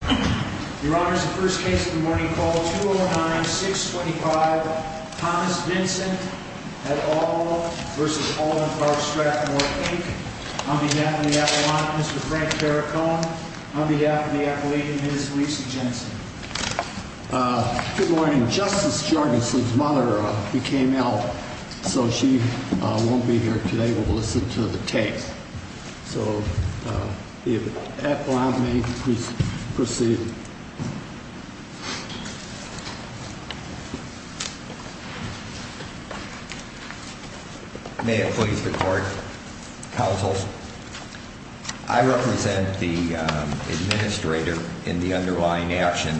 Your Honor, the first case of the morning, call 209-625 Thomas Vincent v. Alden-Park Strathmoor, Inc. On behalf of the Appalachian, Mr. Frank Perricone. On behalf of the Appalachian, Ms. Lisa Jensen. Good morning. Justice Jorgensen's mother became ill, so she won't be here today. We'll listen to the tape. So, if that allows me, please proceed. May it please the court. Counsel, I represent the administrator in the underlying action.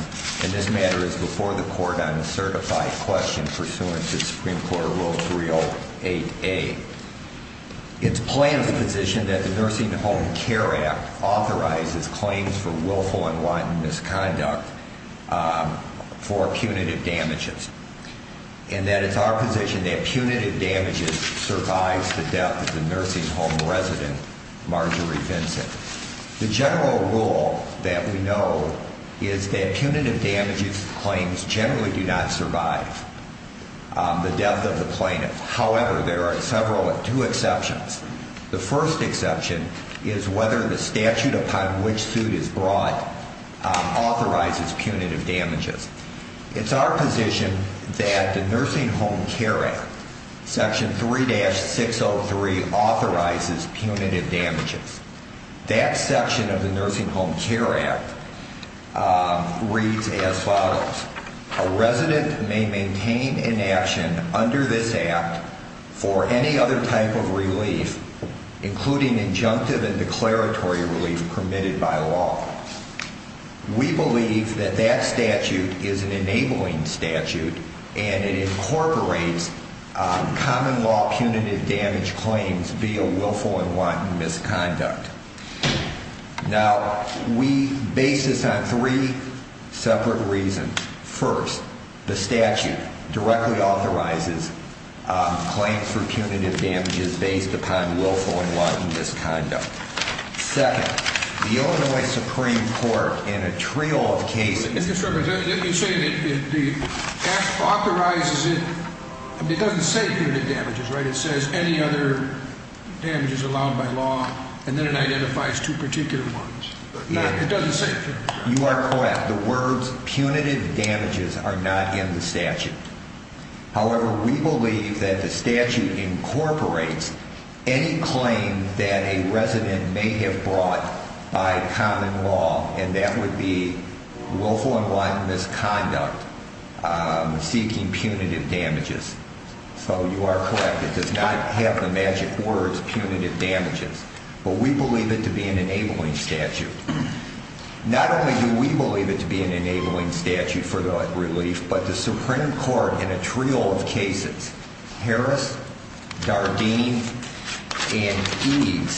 And this matter is before the court on a certified question pursuant to Supreme Court Rule 308A. It's plaintiff's position that the Nursing Home Care Act authorizes claims for willful and wanton misconduct for punitive damages. And that it's our position that punitive damages survives the death of the nursing home resident, Marjorie Vincent. The general rule that we know is that punitive damages claims generally do not survive the death of the plaintiff. However, there are several, two exceptions. The first exception is whether the statute upon which suit is brought authorizes punitive damages. It's our position that the Nursing Home Care Act, Section 3-603 authorizes punitive damages. That section of the Nursing Home Care Act reads as follows. A resident may maintain inaction under this act for any other type of relief, including injunctive and declaratory relief permitted by law. We believe that that statute is an enabling statute and it incorporates common law punitive damage claims via willful and wanton misconduct. Now, we base this on three separate reasons. First, the statute directly authorizes claims for punitive damages based upon willful and wanton misconduct. Second, the Illinois Supreme Court, in a trio of cases... You say that the act authorizes it. It doesn't say punitive damages, right? It says any other damages allowed by law and then it identifies two particular ones. It doesn't say punitive damages. You are correct. The words punitive damages are not in the statute. However, we believe that the statute incorporates any claim that a resident may have brought by common law. And that would be willful and wanton misconduct seeking punitive damages. So you are correct. It does not have the magic words punitive damages. But we believe it to be an enabling statute. Not only do we believe it to be an enabling statute for the relief, but the Supreme Court, in a trio of cases... Harris, Dardeen, and Eads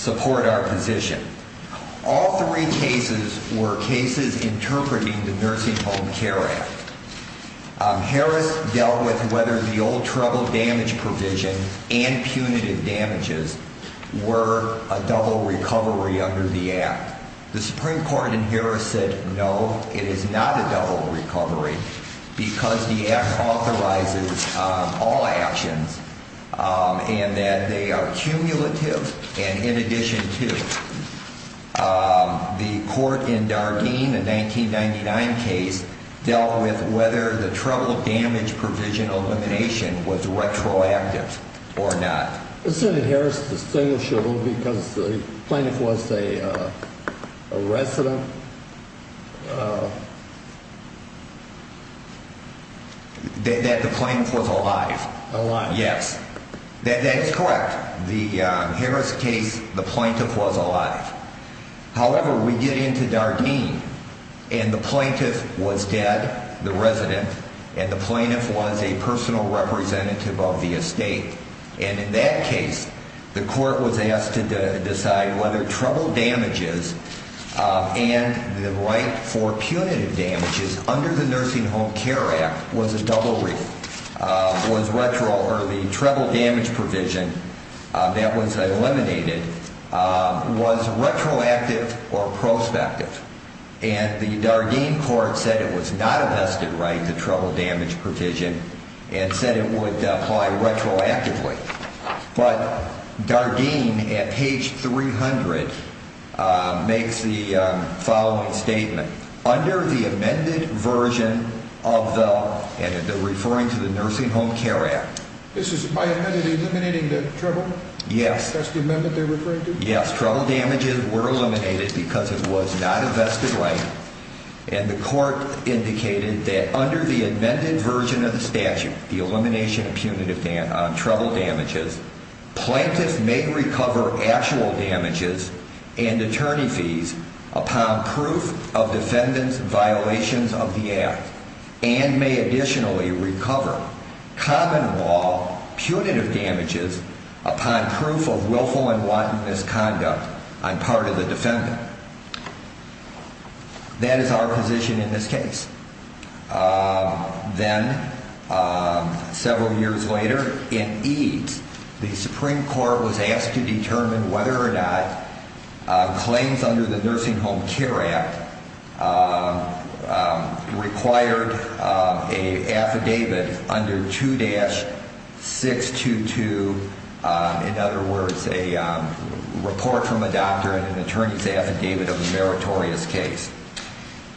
support our position. All three cases were cases interpreting the Nursing Home Care Act. Harris dealt with whether the old trouble damage provision and punitive damages were a double recovery under the act. The Supreme Court in Harris said no, it is not a double recovery because the act authorizes all actions. And that they are cumulative and in addition to. The court in Dardeen, a 1999 case, dealt with whether the trouble damage provision elimination was retroactive or not. But Senator Harris distinguished a little because the plaintiff was a resident. That the plaintiff was alive. Alive. Yes. That is correct. In the Harris case, the plaintiff was alive. However, we get into Dardeen and the plaintiff was dead, the resident. And the plaintiff was a personal representative of the estate. And in that case, the court was asked to decide whether trouble damages and the right for punitive damages... Under the Nursing Home Care Act was a double recovery. Was retro or the trouble damage provision that was eliminated was retroactive or prospective. And the Dardeen court said it was not a vested right, the trouble damage provision, and said it would apply retroactively. But Dardeen, at page 300, makes the following statement. Under the amended version of the... And they're referring to the Nursing Home Care Act. This is... By amended, eliminating the trouble? Yes. That's the amendment they're referring to? Yes. Trouble damages were eliminated because it was not a vested right. And the court indicated that under the amended version of the statute, the elimination of punitive... trouble damages, Plaintiff may recover actual damages and attorney fees upon proof of defendant's violations of the act. And may additionally recover common law punitive damages upon proof of willful and wanton misconduct on part of the defendant. That is our position in this case. Then, several years later, in EADS, the Supreme Court was asked to determine whether or not claims under the Nursing Home Care Act required an affidavit under 2-622, in other words, a report from a doctor and an attorney's affidavit of a meritorious case.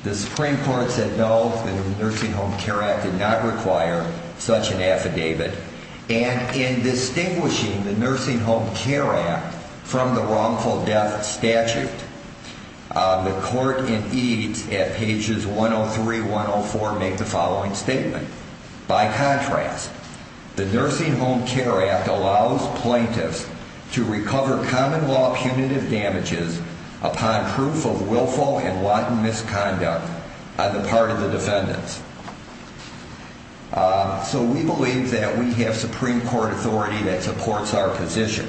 The Supreme Court said no, the Nursing Home Care Act did not require such an affidavit. And in distinguishing the Nursing Home Care Act from the wrongful death statute, the court in EADS at pages 103-104 make the following statement. By contrast, the Nursing Home Care Act allows plaintiffs to recover common law punitive damages upon proof of willful and wanton misconduct on the part of the defendants. So we believe that we have Supreme Court authority that supports our position.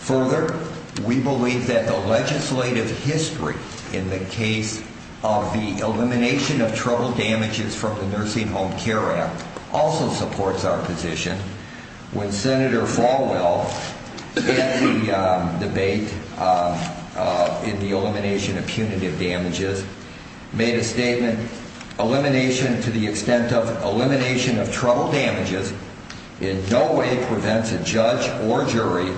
Further, we believe that the legislative history in the case of the elimination of trouble damages from the Nursing Home Care Act also supports our position. When Senator Falwell, in the debate in the elimination of punitive damages, made a statement, he said, Senator Falwell's argument, in fact, was that the statute, in no way, prevents a judge or jury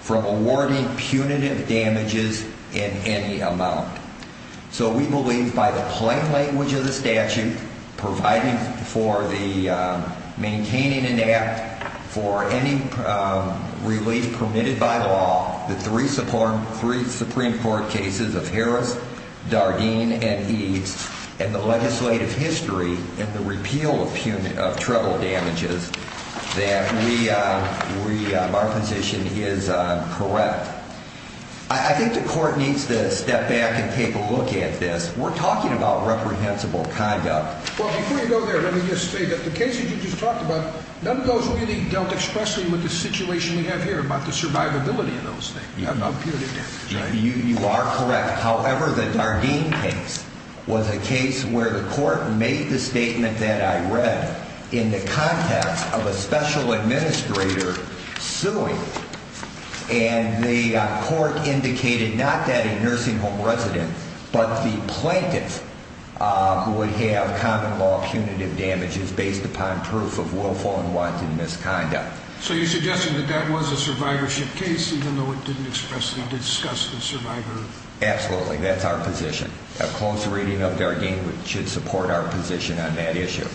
from awarding punitive damages in any amount. So we believe by the plain language of the statute, providing for the maintaining an act for any relief permitted by law, the three Supreme Court cases of Harris, Dardeen, and EADS, and the legislative history in the repeal of trouble damages, that our position is correct. I think the court needs to step back and take a look at this. We're talking about reprehensible conduct. Before you go there, let me just say that the cases you just talked about, none of those really dealt expressly with the situation we have here about the survivability of those things, about punitive damages. You are correct. However, the Dardeen case was a case where the court made the statement that I read in the context of a special administrator suing. And the court indicated not that a nursing home resident, but the plaintiff, would have common law punitive damages based upon proof of willful and wanton misconduct. So you're suggesting that that was a survivorship case, even though it didn't expressly discuss the survivor? Absolutely. That's our position. A close reading of Dardeen should support our position on that issue.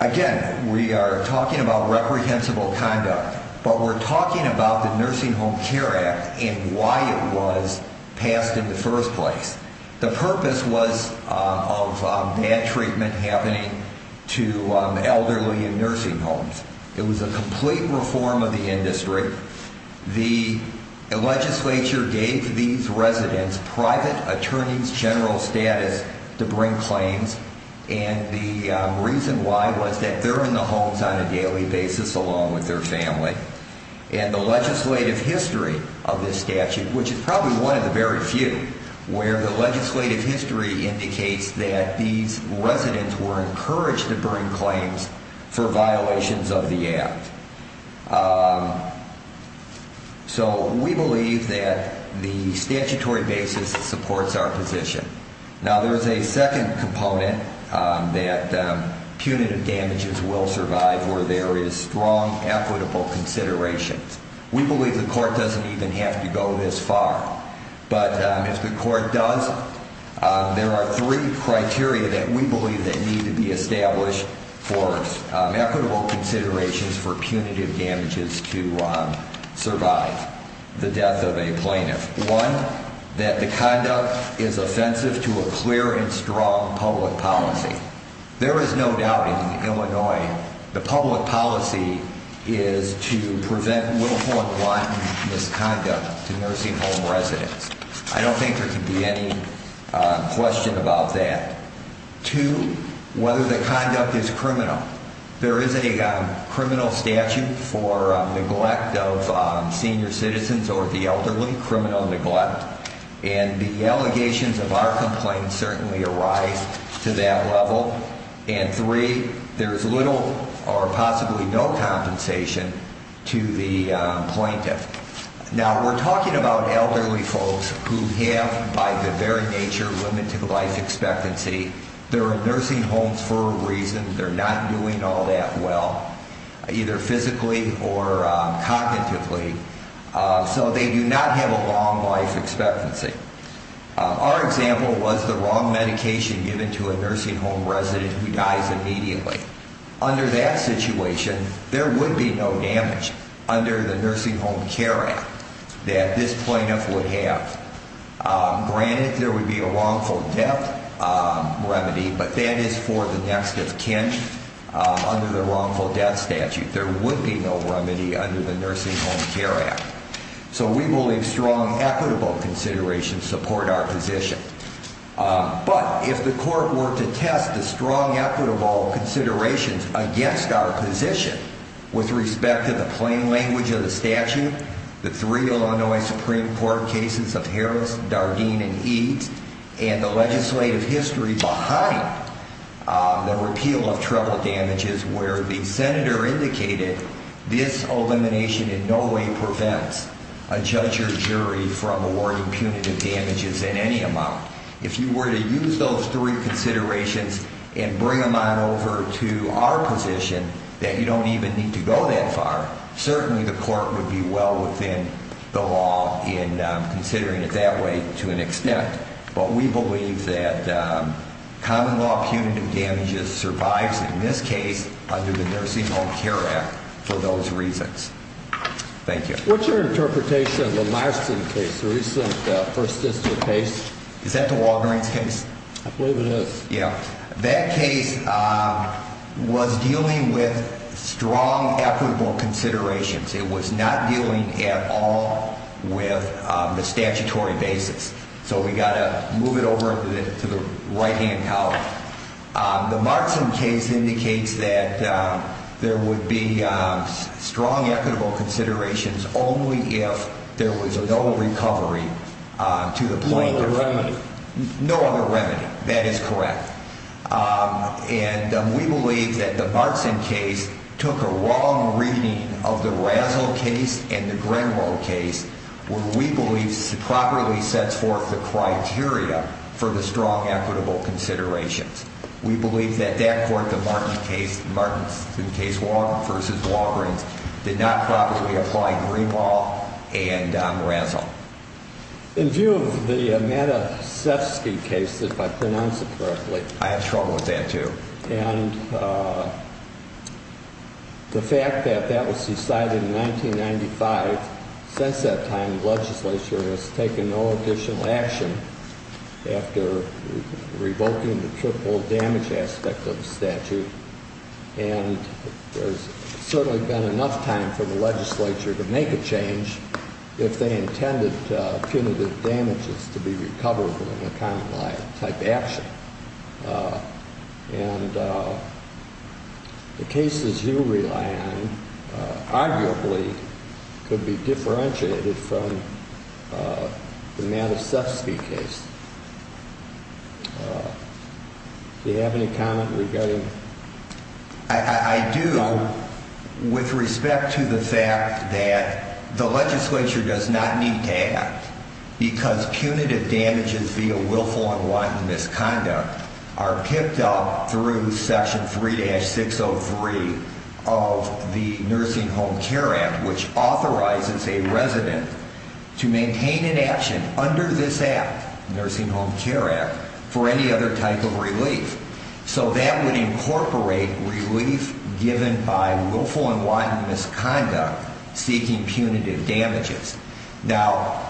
Again, we are talking about reprehensible conduct, but we're talking about the Nursing Home Care Act and why it was passed in the first place. The purpose was of bad treatment happening to elderly in nursing homes. It was a complete reform of the industry. The legislature gave these residents private attorney's general status to bring claims. And the reason why was that they're in the homes on a daily basis along with their family. And the legislative history of this statute, which is probably one of the very few, where the legislative history indicates that these residents were encouraged to bring claims for violations of the act. So we believe that the statutory basis supports our position. Now there's a second component that punitive damages will survive where there is strong equitable consideration. We believe the court doesn't even have to go this far. But if the court does, there are three criteria that we believe that need to be established for equitable considerations for punitive damages to survive the death of a plaintiff. One, that the conduct is offensive to a clear and strong public policy. There is no doubt in Illinois the public policy is to prevent willful and blunt misconduct to nursing home residents. I don't think there can be any question about that. Two, whether the conduct is criminal. There is a criminal statute for neglect of senior citizens or the elderly, criminal neglect. And the allegations of our complaints certainly arise to that level. And three, there is little or possibly no compensation to the plaintiff. Now we're talking about elderly folks who have, by the very nature, limited life expectancy. They're in nursing homes for a reason. They're not doing all that well, either physically or cognitively. So they do not have a long life expectancy. Our example was the wrong medication given to a nursing home resident who dies immediately. Under that situation, there would be no damage under the Nursing Home Care Act that this plaintiff would have. Granted, there would be a wrongful death remedy, but that is for the next of kin. Under the wrongful death statute, there would be no remedy under the Nursing Home Care Act. So we believe strong, equitable considerations support our position. But if the court were to test the strong, equitable considerations against our position with respect to the plain language of the statute, the three Illinois Supreme Court cases of Harris, Dardeen, and Eades, and the legislative history behind the repeal of treble damages where the senator indicated this elimination in no way prevents a judge or jury from awarding punitive damages in any amount. If you were to use those three considerations and bring them on over to our position that you don't even need to go that far, certainly the court would be well within the law in considering it that way to an extent. But we believe that common law punitive damages survives in this case under the Nursing Home Care Act for those reasons. Thank you. What's your interpretation of the Larson case, the recent first district case? Is that the Walgreens case? I believe it is. That case was dealing with strong, equitable considerations. It was not dealing at all with the statutory basis. So we've got to move it over to the right-hand column. The Larson case indicates that there would be strong, equitable considerations only if there was no recovery to the point of... No other remedy. That is correct. And we believe that the Larson case took a wrong reading of the Razzle case and the Grenwell case where we believe it properly sets forth the criteria for the strong, equitable considerations. We believe that that court, the Martin case, Martin v. Walgreens, did not properly apply Grenwell and Razzle. In view of the Matasevsky case, if I pronounce it correctly... I have trouble with that, too. And the fact that that was decided in 1995, since that time the legislature has taken no additional action after revoking the triple damage aspect of the statute, and there's certainly been enough time for the legislature to make a change if they intended punitive damages to be recovered in a common-law type action. And the cases you rely on arguably could be differentiated from the Matasevsky case. Do you have any comment regarding... I do with respect to the fact that the legislature does not need to act because punitive damages via willful and wanton misconduct are picked up through Section 3-603 of the Nursing Home Care Act which authorizes a resident to maintain an action under this act, Nursing Home Care Act, for any other type of relief. So that would incorporate relief given by willful and wanton misconduct seeking punitive damages. Now,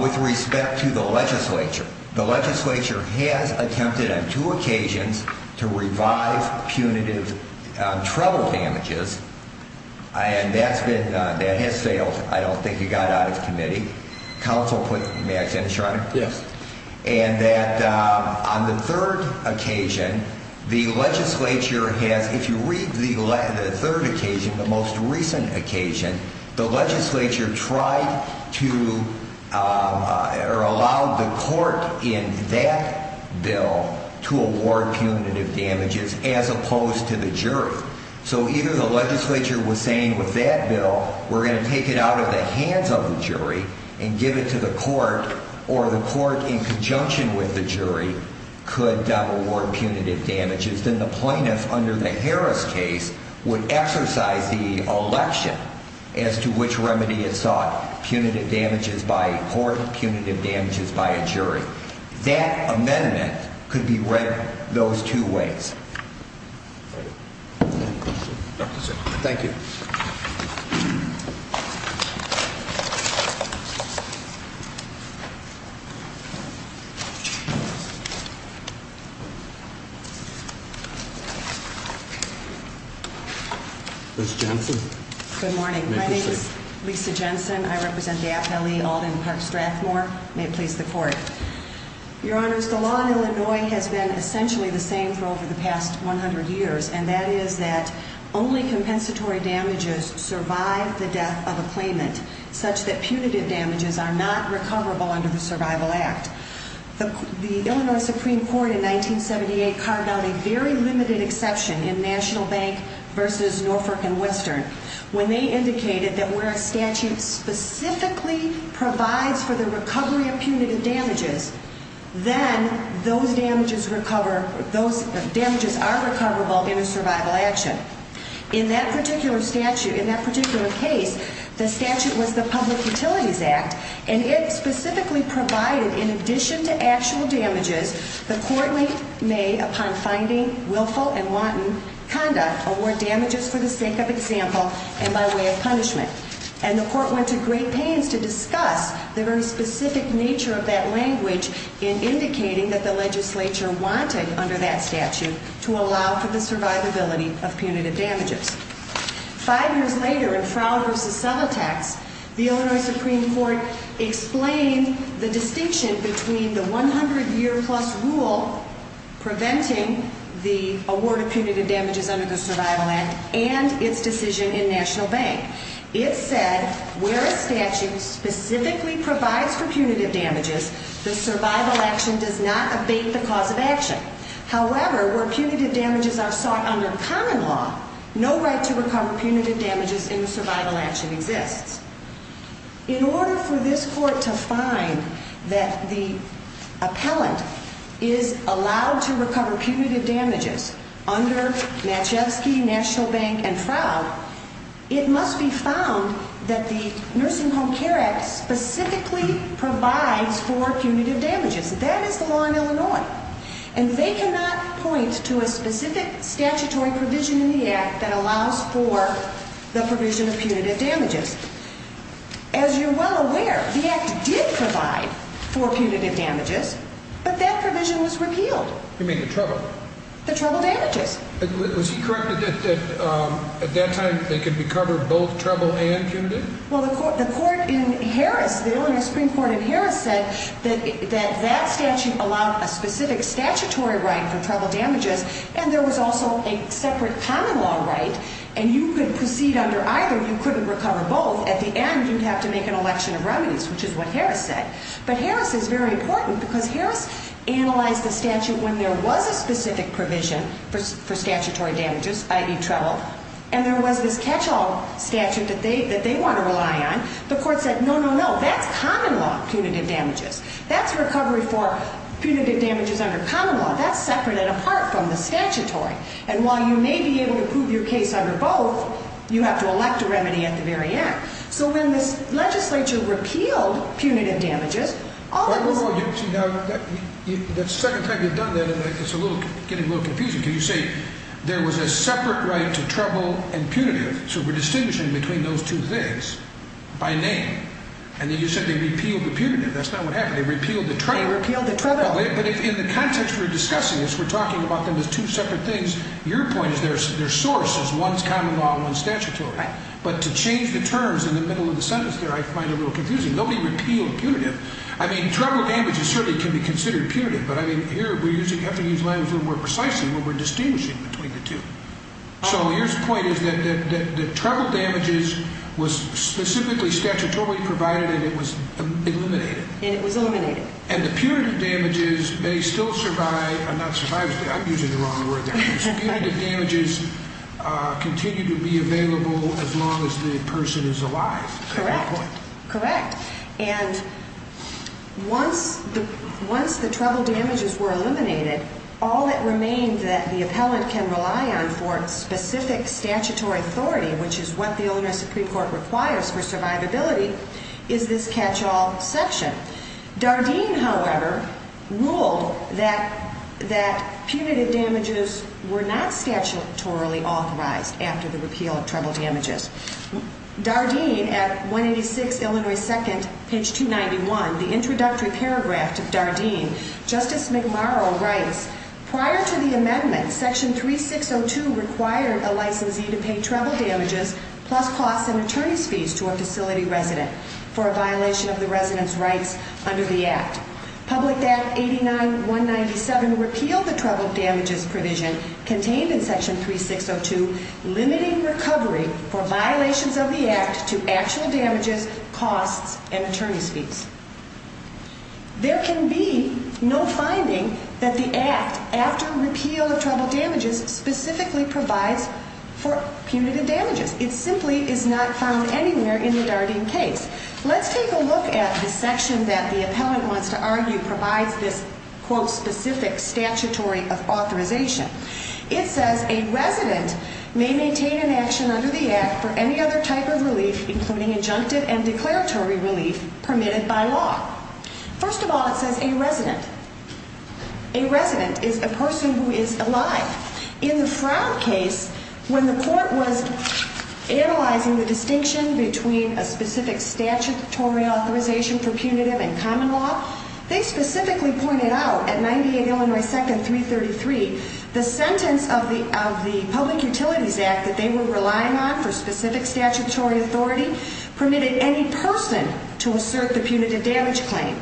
with respect to the legislature, the legislature has attempted on two occasions to revive punitive trouble damages, and that has failed. I don't think it got out of committee. Counsel put... May I finish, Your Honor? Yes. And that on the third occasion, the legislature has... If you read the third occasion, the most recent occasion, the legislature tried to... or allowed the court in that bill to award punitive damages as opposed to the jury. So either the legislature was saying with that bill we're going to take it out of the hands of the jury and give it to the court, or the court in conjunction with the jury could award punitive damages. Then the plaintiff, under the Harris case, would exercise the election as to which remedy is sought. Punitive damages by a court, punitive damages by a jury. That amendment could be read those two ways. Thank you. Thank you. Ms. Jensen. Good morning. My name is Lisa Jensen. I represent the AFLE Alden Park Strathmore. May it please the court. Your Honors, the law in Illinois has been essentially the same for over the past 100 years, and that is that only compensatory damages survive the death of a claimant, such that punitive damages are not recoverable under the Survival Act. The Illinois Supreme Court in 1978 carved out a very limited exception in National Bank v. Norfolk and Western when they indicated that where a statute specifically provides for the recovery of punitive damages, then those damages are recoverable in a survival action. In that particular statute, in that particular case, the statute was the Public Utilities Act, and it specifically provided, in addition to actual damages, the court may, upon finding willful and wanton conduct, award damages for the sake of example and by way of punishment. And the court went to great pains to discuss the very specific nature of that language in indicating that the legislature wanted, under that statute, to allow for the survivability of punitive damages. Five years later, in Frown v. Subotex, the Illinois Supreme Court explained the distinction between the 100-year-plus rule preventing the award of punitive damages under the Survival Act and its decision in National Bank. It said, where a statute specifically provides for punitive damages, the survival action does not abate the cause of action. However, where punitive damages are sought under common law, no right to recover punitive damages in a survival action exists. In order for this court to find that the appellant is allowed to recover punitive damages under Natchevsky, National Bank, and Frown, it must be found that the Nursing Home Care Act specifically provides for punitive damages. That is the law in Illinois. And they cannot point to a specific statutory provision in the Act that allows for the provision of punitive damages. As you're well aware, the Act did provide for punitive damages, but that provision was repealed. You mean the trouble? The trouble damages. Was he correct that at that time they could be covered both trouble and punitive? Well, the court in Harris, the Illinois Supreme Court in Harris said that that statute allowed a specific statutory right for trouble damages, and there was also a separate common law right, and you could proceed under either. You couldn't recover both. At the end, you'd have to make an election of remedies, which is what Harris said. But Harris is very important, because Harris analyzed the statute when there was a specific provision for statutory damages, i.e., trouble, and there was this catch-all statute that they want to rely on. The court said, no, no, no. That's common law punitive damages. That's recovery for punitive damages under common law. That's separate and apart from the statutory. And while you may be able to prove your case under both, you have to elect a remedy at the very end. So when this legislature repealed punitive damages, all that was... Now, the second time you've done that, it's getting a little confusing, because you say there was a separate right to trouble and punitive, so we're distinguishing between those two things by name. And then you said they repealed the punitive. That's not what happened. They repealed the trouble. They repealed the trouble. But in the context we're discussing this, we're talking about them as two separate things. Your point is their source is one's common law and one's statutory. Right. But to change the terms in the middle of the sentence there, I find it a little confusing. Nobody repealed punitive. I mean, trouble damages certainly can be considered punitive, but, I mean, here we have to use language a little more precisely, where we're distinguishing between the two. So your point is that the trouble damages was specifically statutorily provided and it was eliminated. And it was eliminated. And the punitive damages may still survive. I'm not survivors, but I'm using the wrong word there. The punitive damages continue to be available as long as the person is alive. Correct. Correct. And once the trouble damages were eliminated, all that remained that the appellant can rely on for specific statutory authority, which is what the Illinois Supreme Court requires for survivability, is this catch-all section. Dardenne, however, ruled that punitive damages were not statutorily authorized after the repeal of trouble damages. Dardenne, at 186 Illinois 2nd, page 291, the introductory paragraph to Dardenne, Justice McMurrow writes, Prior to the amendment, section 3602 required a licensee to pay trouble damages plus costs and attorney's fees to a facility resident for a violation of the resident's rights under the Act. Public Act 89-197 repealed the trouble damages provision contained in section 3602 limiting recovery for violations of the Act to actual damages, costs, and attorney's fees. There can be no finding that the Act, after repeal of trouble damages, specifically provides for punitive damages. It simply is not found anywhere in the Dardenne case. Let's take a look at the section that the appellant wants to argue provides this quote specific statutory authorization. It says a resident may maintain an action under the Act for any other type of relief including injunctive and declaratory relief permitted by law. First of all, it says a resident. A resident is a person who is alive. In the Frown case, when the court was analyzing the distinction between a specific statutory authorization for punitive and common law, they specifically pointed out, at 98 Illinois 2nd, 333, the sentence of the Public Utilities Act that they were relying on for specific statutory authority permitted any person to assert the punitive damage claim.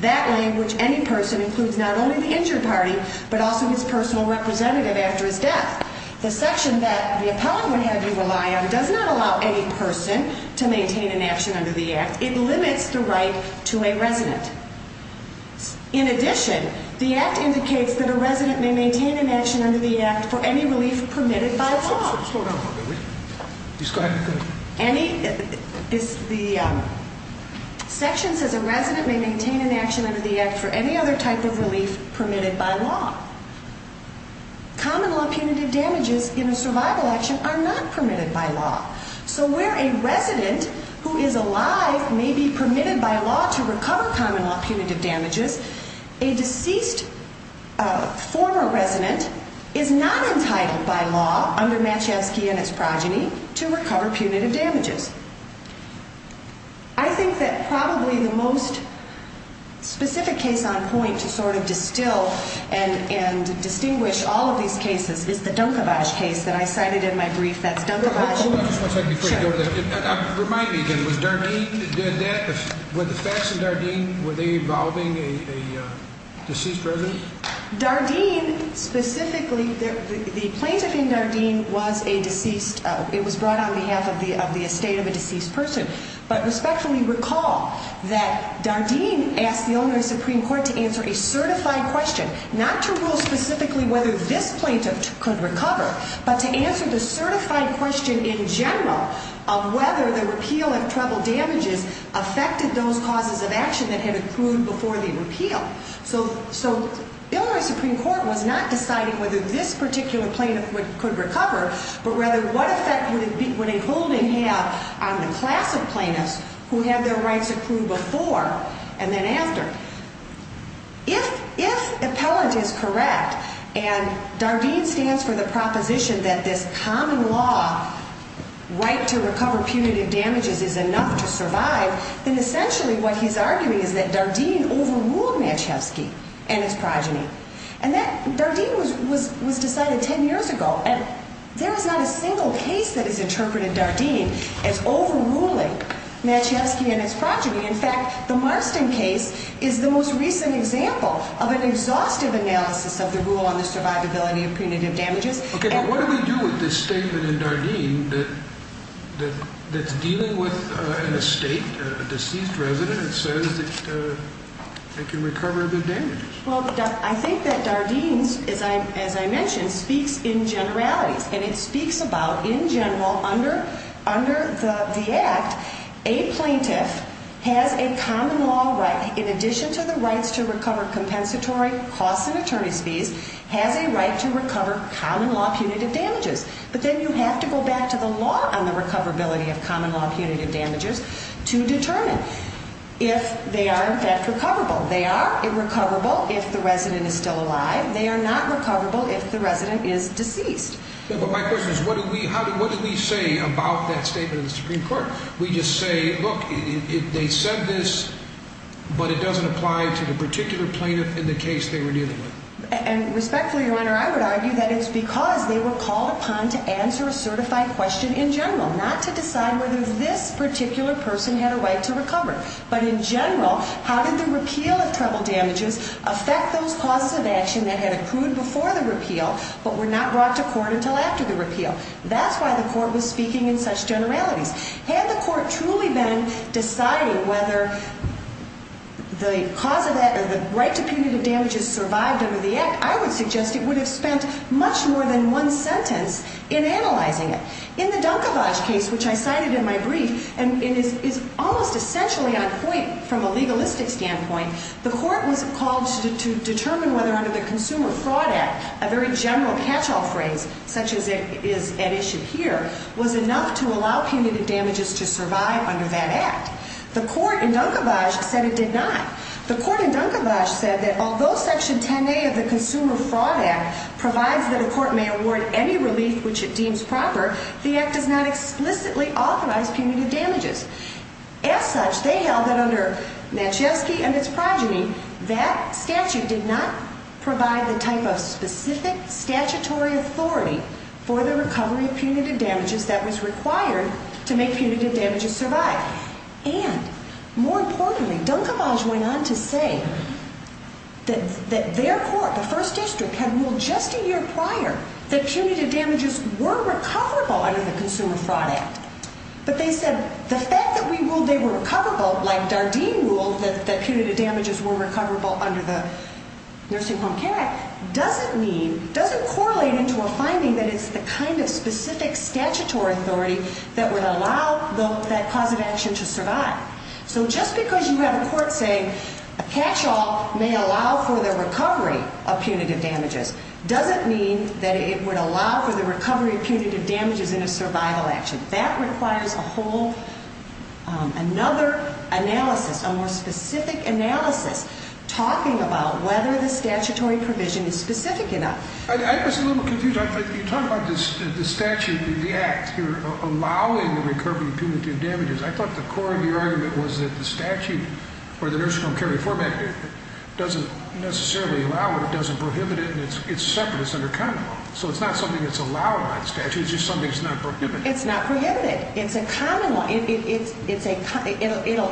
That language, any person, includes not only the injured party but also his personal representative after his death. The section that the appellant would have you rely on does not allow any person to maintain an action under the Act. It limits the right to a resident. In addition, the Act indicates that a resident may maintain an action under the Act for any relief permitted by law. Slow down a little bit. The section says a resident may maintain an action under the Act for any other type of relief permitted by law. Common law punitive damages in a survival action are not permitted by law. So where a resident who is alive may be permitted by law to recover common law punitive damages, a deceased former resident is not entitled by law, under Matchevsky and its progeny, to recover punitive damages. I think that probably the most specific case on point to sort of distill and distinguish all of these cases is the Dunkevich case that I cited in my brief. That's Dunkevich. Hold on just one second before you go to that. Remind me again, was Dardeen, were the facts in Dardeen, were they involving a deceased resident? Dardeen specifically, the plaintiff in Dardeen was a deceased, it was brought on behalf of the estate of a deceased person. But respectfully recall that Dardeen asked the owner of the Supreme Court to answer a certified question, not to rule specifically whether this plaintiff could recover, but to answer the certified question in general of whether the repeal of treble damages affected those causes of action that had accrued before the repeal. So Illinois Supreme Court was not deciding whether this particular plaintiff could recover, but rather what effect would a holding have on the class of plaintiffs who had their rights accrued before and then after. If appellant is correct, and Dardeen stands for the proposition that this common law right to recover punitive damages is enough to survive, then essentially what he's arguing is that Dardeen overruled Matchewski and his progeny. And that Dardeen was decided 10 years ago, and there is not a single case that has interpreted Dardeen as overruling Matchewski and his progeny. In fact, the Marston case is the most recent example of an exhaustive analysis of the rule on the survivability of punitive damages. Okay, but what do we do with this statement in Dardeen that's dealing with an estate, a deceased resident, and says that they can recover the damages? Well, I think that Dardeen, as I mentioned, speaks in generalities, and it speaks about, in general, under the Act, a plaintiff has a common law right, has a right to recover common law punitive damages. But then you have to go back to the law on the recoverability of common law punitive damages to determine if they are in fact recoverable. They are recoverable if the resident is still alive. They are not recoverable if the resident is deceased. But my question is what do we say about that statement in the Supreme Court? We just say, look, they said this, but it doesn't apply to the particular plaintiff in the case they were dealing with. And respectfully, Your Honor, I would argue that it's because they were called upon to answer a certified question in general, not to decide whether this particular person had a right to recover. But in general, how did the repeal of treble damages affect those causes of action that had accrued before the repeal but were not brought to court until after the repeal? That's why the court was speaking in such generalities. Had the court truly been deciding whether the cause of that, the right to punitive damages survived under the Act, I would suggest it would have spent much more than one sentence in analyzing it. In the Dunkevage case, which I cited in my brief, and it is almost essentially on point from a legalistic standpoint, the court was called to determine whether under the Consumer Fraud Act a very general catch-all phrase, such as it is at issue here, was enough to allow punitive damages to survive under that Act. The court in Dunkevage said it did not. The court in Dunkevage said that although Section 10A of the Consumer Fraud Act provides that a court may award any relief which it deems proper, the Act does not explicitly authorize punitive damages. As such, they held that under Maciejewski and its progeny, that statute did not provide the type of specific statutory authority for the recovery of punitive damages that was required to make punitive damages survive. And, more importantly, Dunkevage went on to say that their court, the First District, had ruled just a year prior that punitive damages were recoverable under the Consumer Fraud Act. But they said the fact that we ruled they were recoverable, like Dardeen ruled that punitive damages were recoverable under the Nursing Home Care Act, doesn't mean, doesn't correlate into a finding that it's the kind of specific statutory authority that would allow that cause of action to survive. So just because you have a court say a catch-all may allow for the recovery of punitive damages doesn't mean that it would allow for the recovery of punitive damages in a survival action. That requires a whole another analysis, a more specific analysis, talking about whether the statutory provision is specific enough. I was a little confused. You talk about the statute in the Act here allowing the recovery of punitive damages. I thought the core of your argument was that the statute or the Nursing Home Care Reform Act doesn't necessarily allow it, it doesn't prohibit it, and it's separate, it's under common law. So it's not something that's allowed by the statute, it's just something that's not prohibited. It's not prohibited. It's a common law. It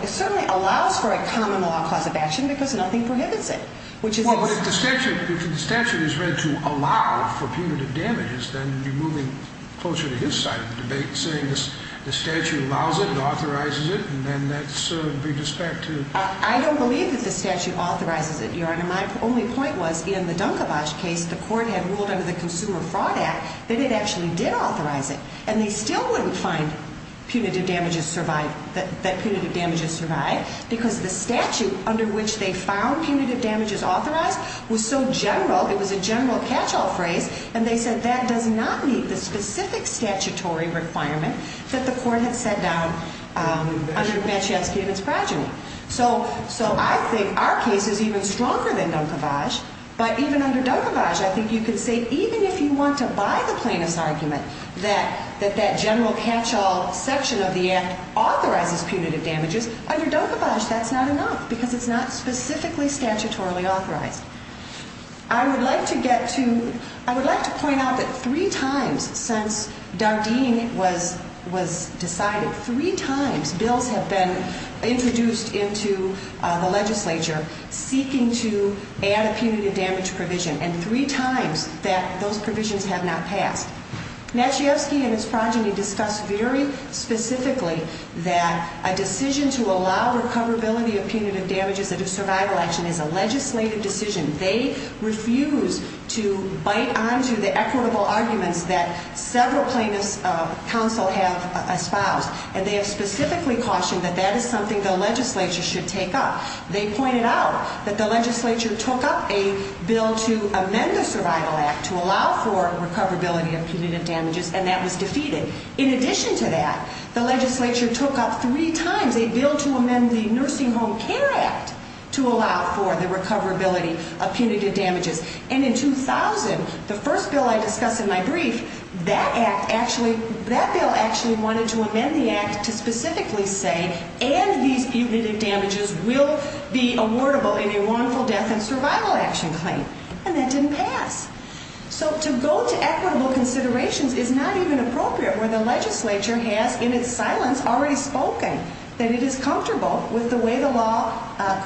certainly allows for a common law cause of action because nothing prohibits it. Well, but if the statute is read to allow for punitive damages, then you're moving closer to his side of the debate, saying the statute allows it, authorizes it, and then that's a big disrespect too. I don't believe that the statute authorizes it, Your Honor. My only point was in the Dunkevich case, the court had ruled under the Consumer Fraud Act that it actually did authorize it, and they still wouldn't find that punitive damages survived because the statute under which they found punitive damages authorized was so general, it was a general catch-all phrase, and they said that does not meet the specific statutory requirement that the court had set down under Bansheevsky and his progeny. So I think our case is even stronger than Dunkevich, but even under Dunkevich, I think you could say even if you want to buy the plaintiff's argument that that general catch-all section of the act authorizes punitive damages, under Dunkevich that's not enough because it's not specifically statutorily authorized. I would like to get to, I would like to point out that three times since Dardeen was decided, three times bills have been introduced into the legislature seeking to add a punitive damage provision, and three times that those provisions have not passed. Bansheevsky and his progeny discussed very specifically that a decision to allow recoverability of punitive damages under survival action is a legislative decision. They refuse to bite onto the equitable arguments that several plaintiffs' counsel have espoused, and they have specifically cautioned that that is something the legislature should take up. They pointed out that the legislature took up a bill to amend the Survival Act to allow for recoverability of punitive damages, and that was defeated. In addition to that, the legislature took up three times a bill to amend the Nursing Home Care Act to allow for the recoverability of punitive damages, and in 2000, the first bill I discuss in my brief, that bill actually wanted to amend the act to specifically say, and these punitive damages will be awardable in a wrongful death and survival action claim, and that didn't pass. So to go to equitable considerations is not even appropriate when the legislature has, in its silence, already spoken that it is comfortable with the way the law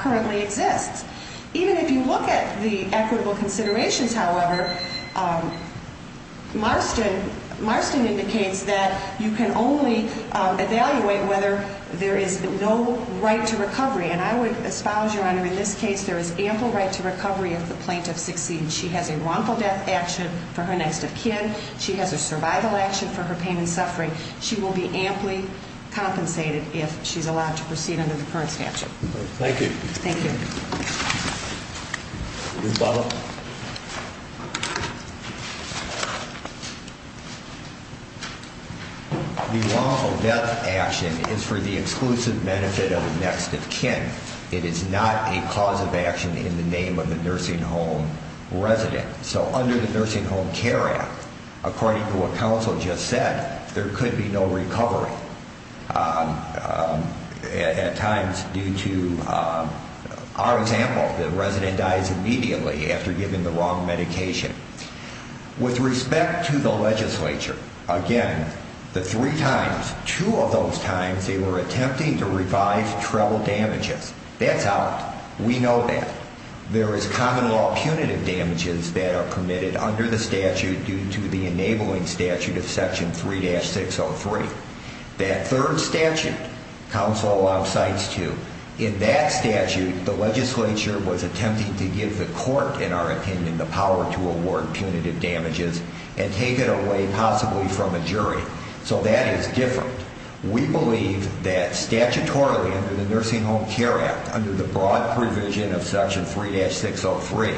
currently exists. Even if you look at the equitable considerations, however, Marston indicates that you can only evaluate whether there is no right to recovery, and I would espouse, Your Honor, in this case, there is ample right to recovery if the plaintiff succeeds. She has a wrongful death action for her next of kin. She has a survival action for her pain and suffering. She will be amply compensated if she's allowed to proceed under the current statute. Thank you. Thank you. Ms. Butler. The wrongful death action is for the exclusive benefit of the next of kin. It is not a cause of action in the name of the nursing home resident. So under the Nursing Home Care Act, according to what counsel just said, there could be no recovery at times due to our example, the resident dies immediately after giving the wrong medication. With respect to the legislature, again, the three times, two of those times, they were attempting to revive treble damages. That's out. We know that. There is common law punitive damages that are permitted under the statute due to the enabling statute of Section 3-603. That third statute, counsel alongsides to, in that statute, the legislature was attempting to give the court, in our opinion, the power to award punitive damages and take it away possibly from a jury. So that is different. We believe that statutorily under the Nursing Home Care Act, under the broad provision of Section 3-603,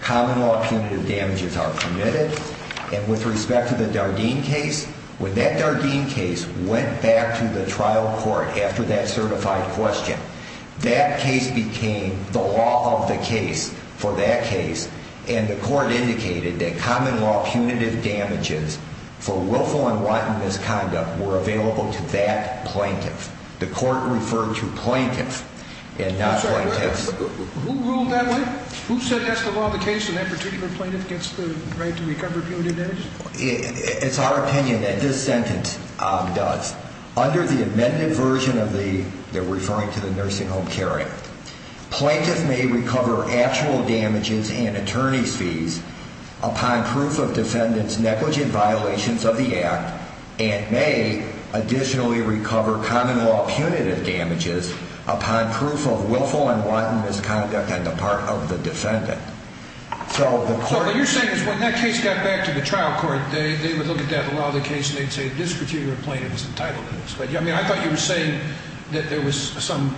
common law punitive damages are permitted. And with respect to the Dardeen case, when that Dardeen case went back to the trial court after that certified question, that case became the law of the case for that case, and the court indicated that common law punitive damages for willful and wanton misconduct were available to that plaintiff. The court referred to plaintiff and not plaintiffs. Who ruled that way? Who said that's the law of the case and that particular plaintiff gets the right to recover punitive damages? It's our opinion that this sentence does. Under the amended version of the, referring to the Nursing Home Care Act, plaintiff may recover actual damages and attorney's fees upon proof of defendant's negligent violations of the act and may additionally recover common law punitive damages upon proof of willful and wanton misconduct on the part of the defendant. So the court... So what you're saying is when that case got back to the trial court, they would look at that law of the case and they'd say this particular plaintiff is entitled to this. But, I mean, I thought you were saying that there was some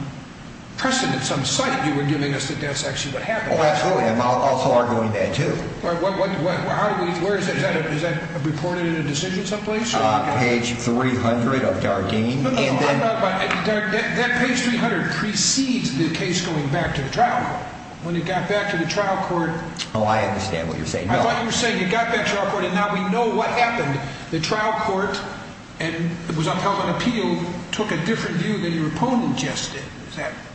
precedent, some site you were giving us that that's actually what happened. Oh, absolutely. I'm also arguing that, too. Where is that? Is that reported in a decision someplace? Page 300 of Dargene. No, no, no. That page 300 precedes the case going back to the trial court. When it got back to the trial court... Oh, I understand what you're saying. I thought you were saying it got back to the trial court and now we know what happened. The trial court was upheld on appeal, took a different view than your opponent just did.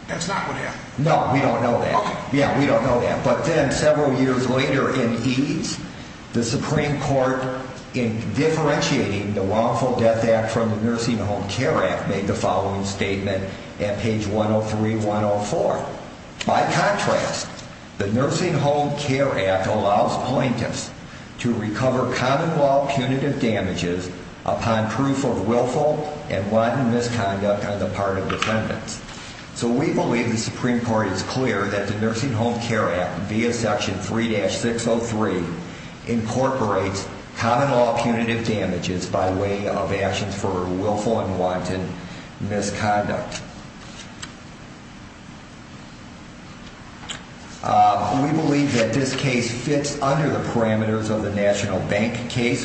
That's not what happened. No, we don't know that. Yeah, we don't know that. But then several years later in EADS, the Supreme Court, in differentiating the Lawful Death Act from the Nursing Home Care Act, made the following statement at page 103-104. By contrast, the Nursing Home Care Act allows plaintiffs to recover common law punitive damages upon proof of willful and wanton misconduct on the part of defendants. So we believe the Supreme Court is clear that the Nursing Home Care Act, via section 3-603, incorporates common law punitive damages by way of actions for willful and wanton misconduct. We believe that this case fits under the parameters of the National Bank case,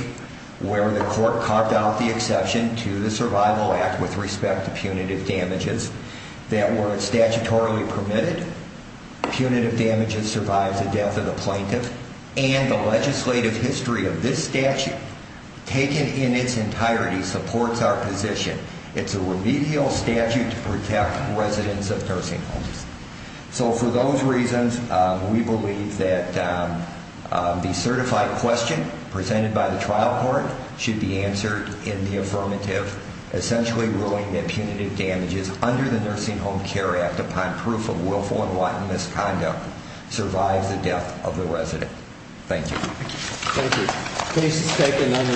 where the court carved out the exception to the Survival Act with respect to punitive damages that were statutorily permitted. Punitive damages survive the death of the plaintiff, and the legislative history of this statute, taken in its entirety, supports our position. It's a remedial statute to protect residents of nursing homes. So for those reasons, we believe that the certified question presented by the trial court should be answered in the affirmative, essentially ruling that punitive damages under the Nursing Home Care Act upon proof of willful and wanton misconduct survive the death of the resident. Thank you.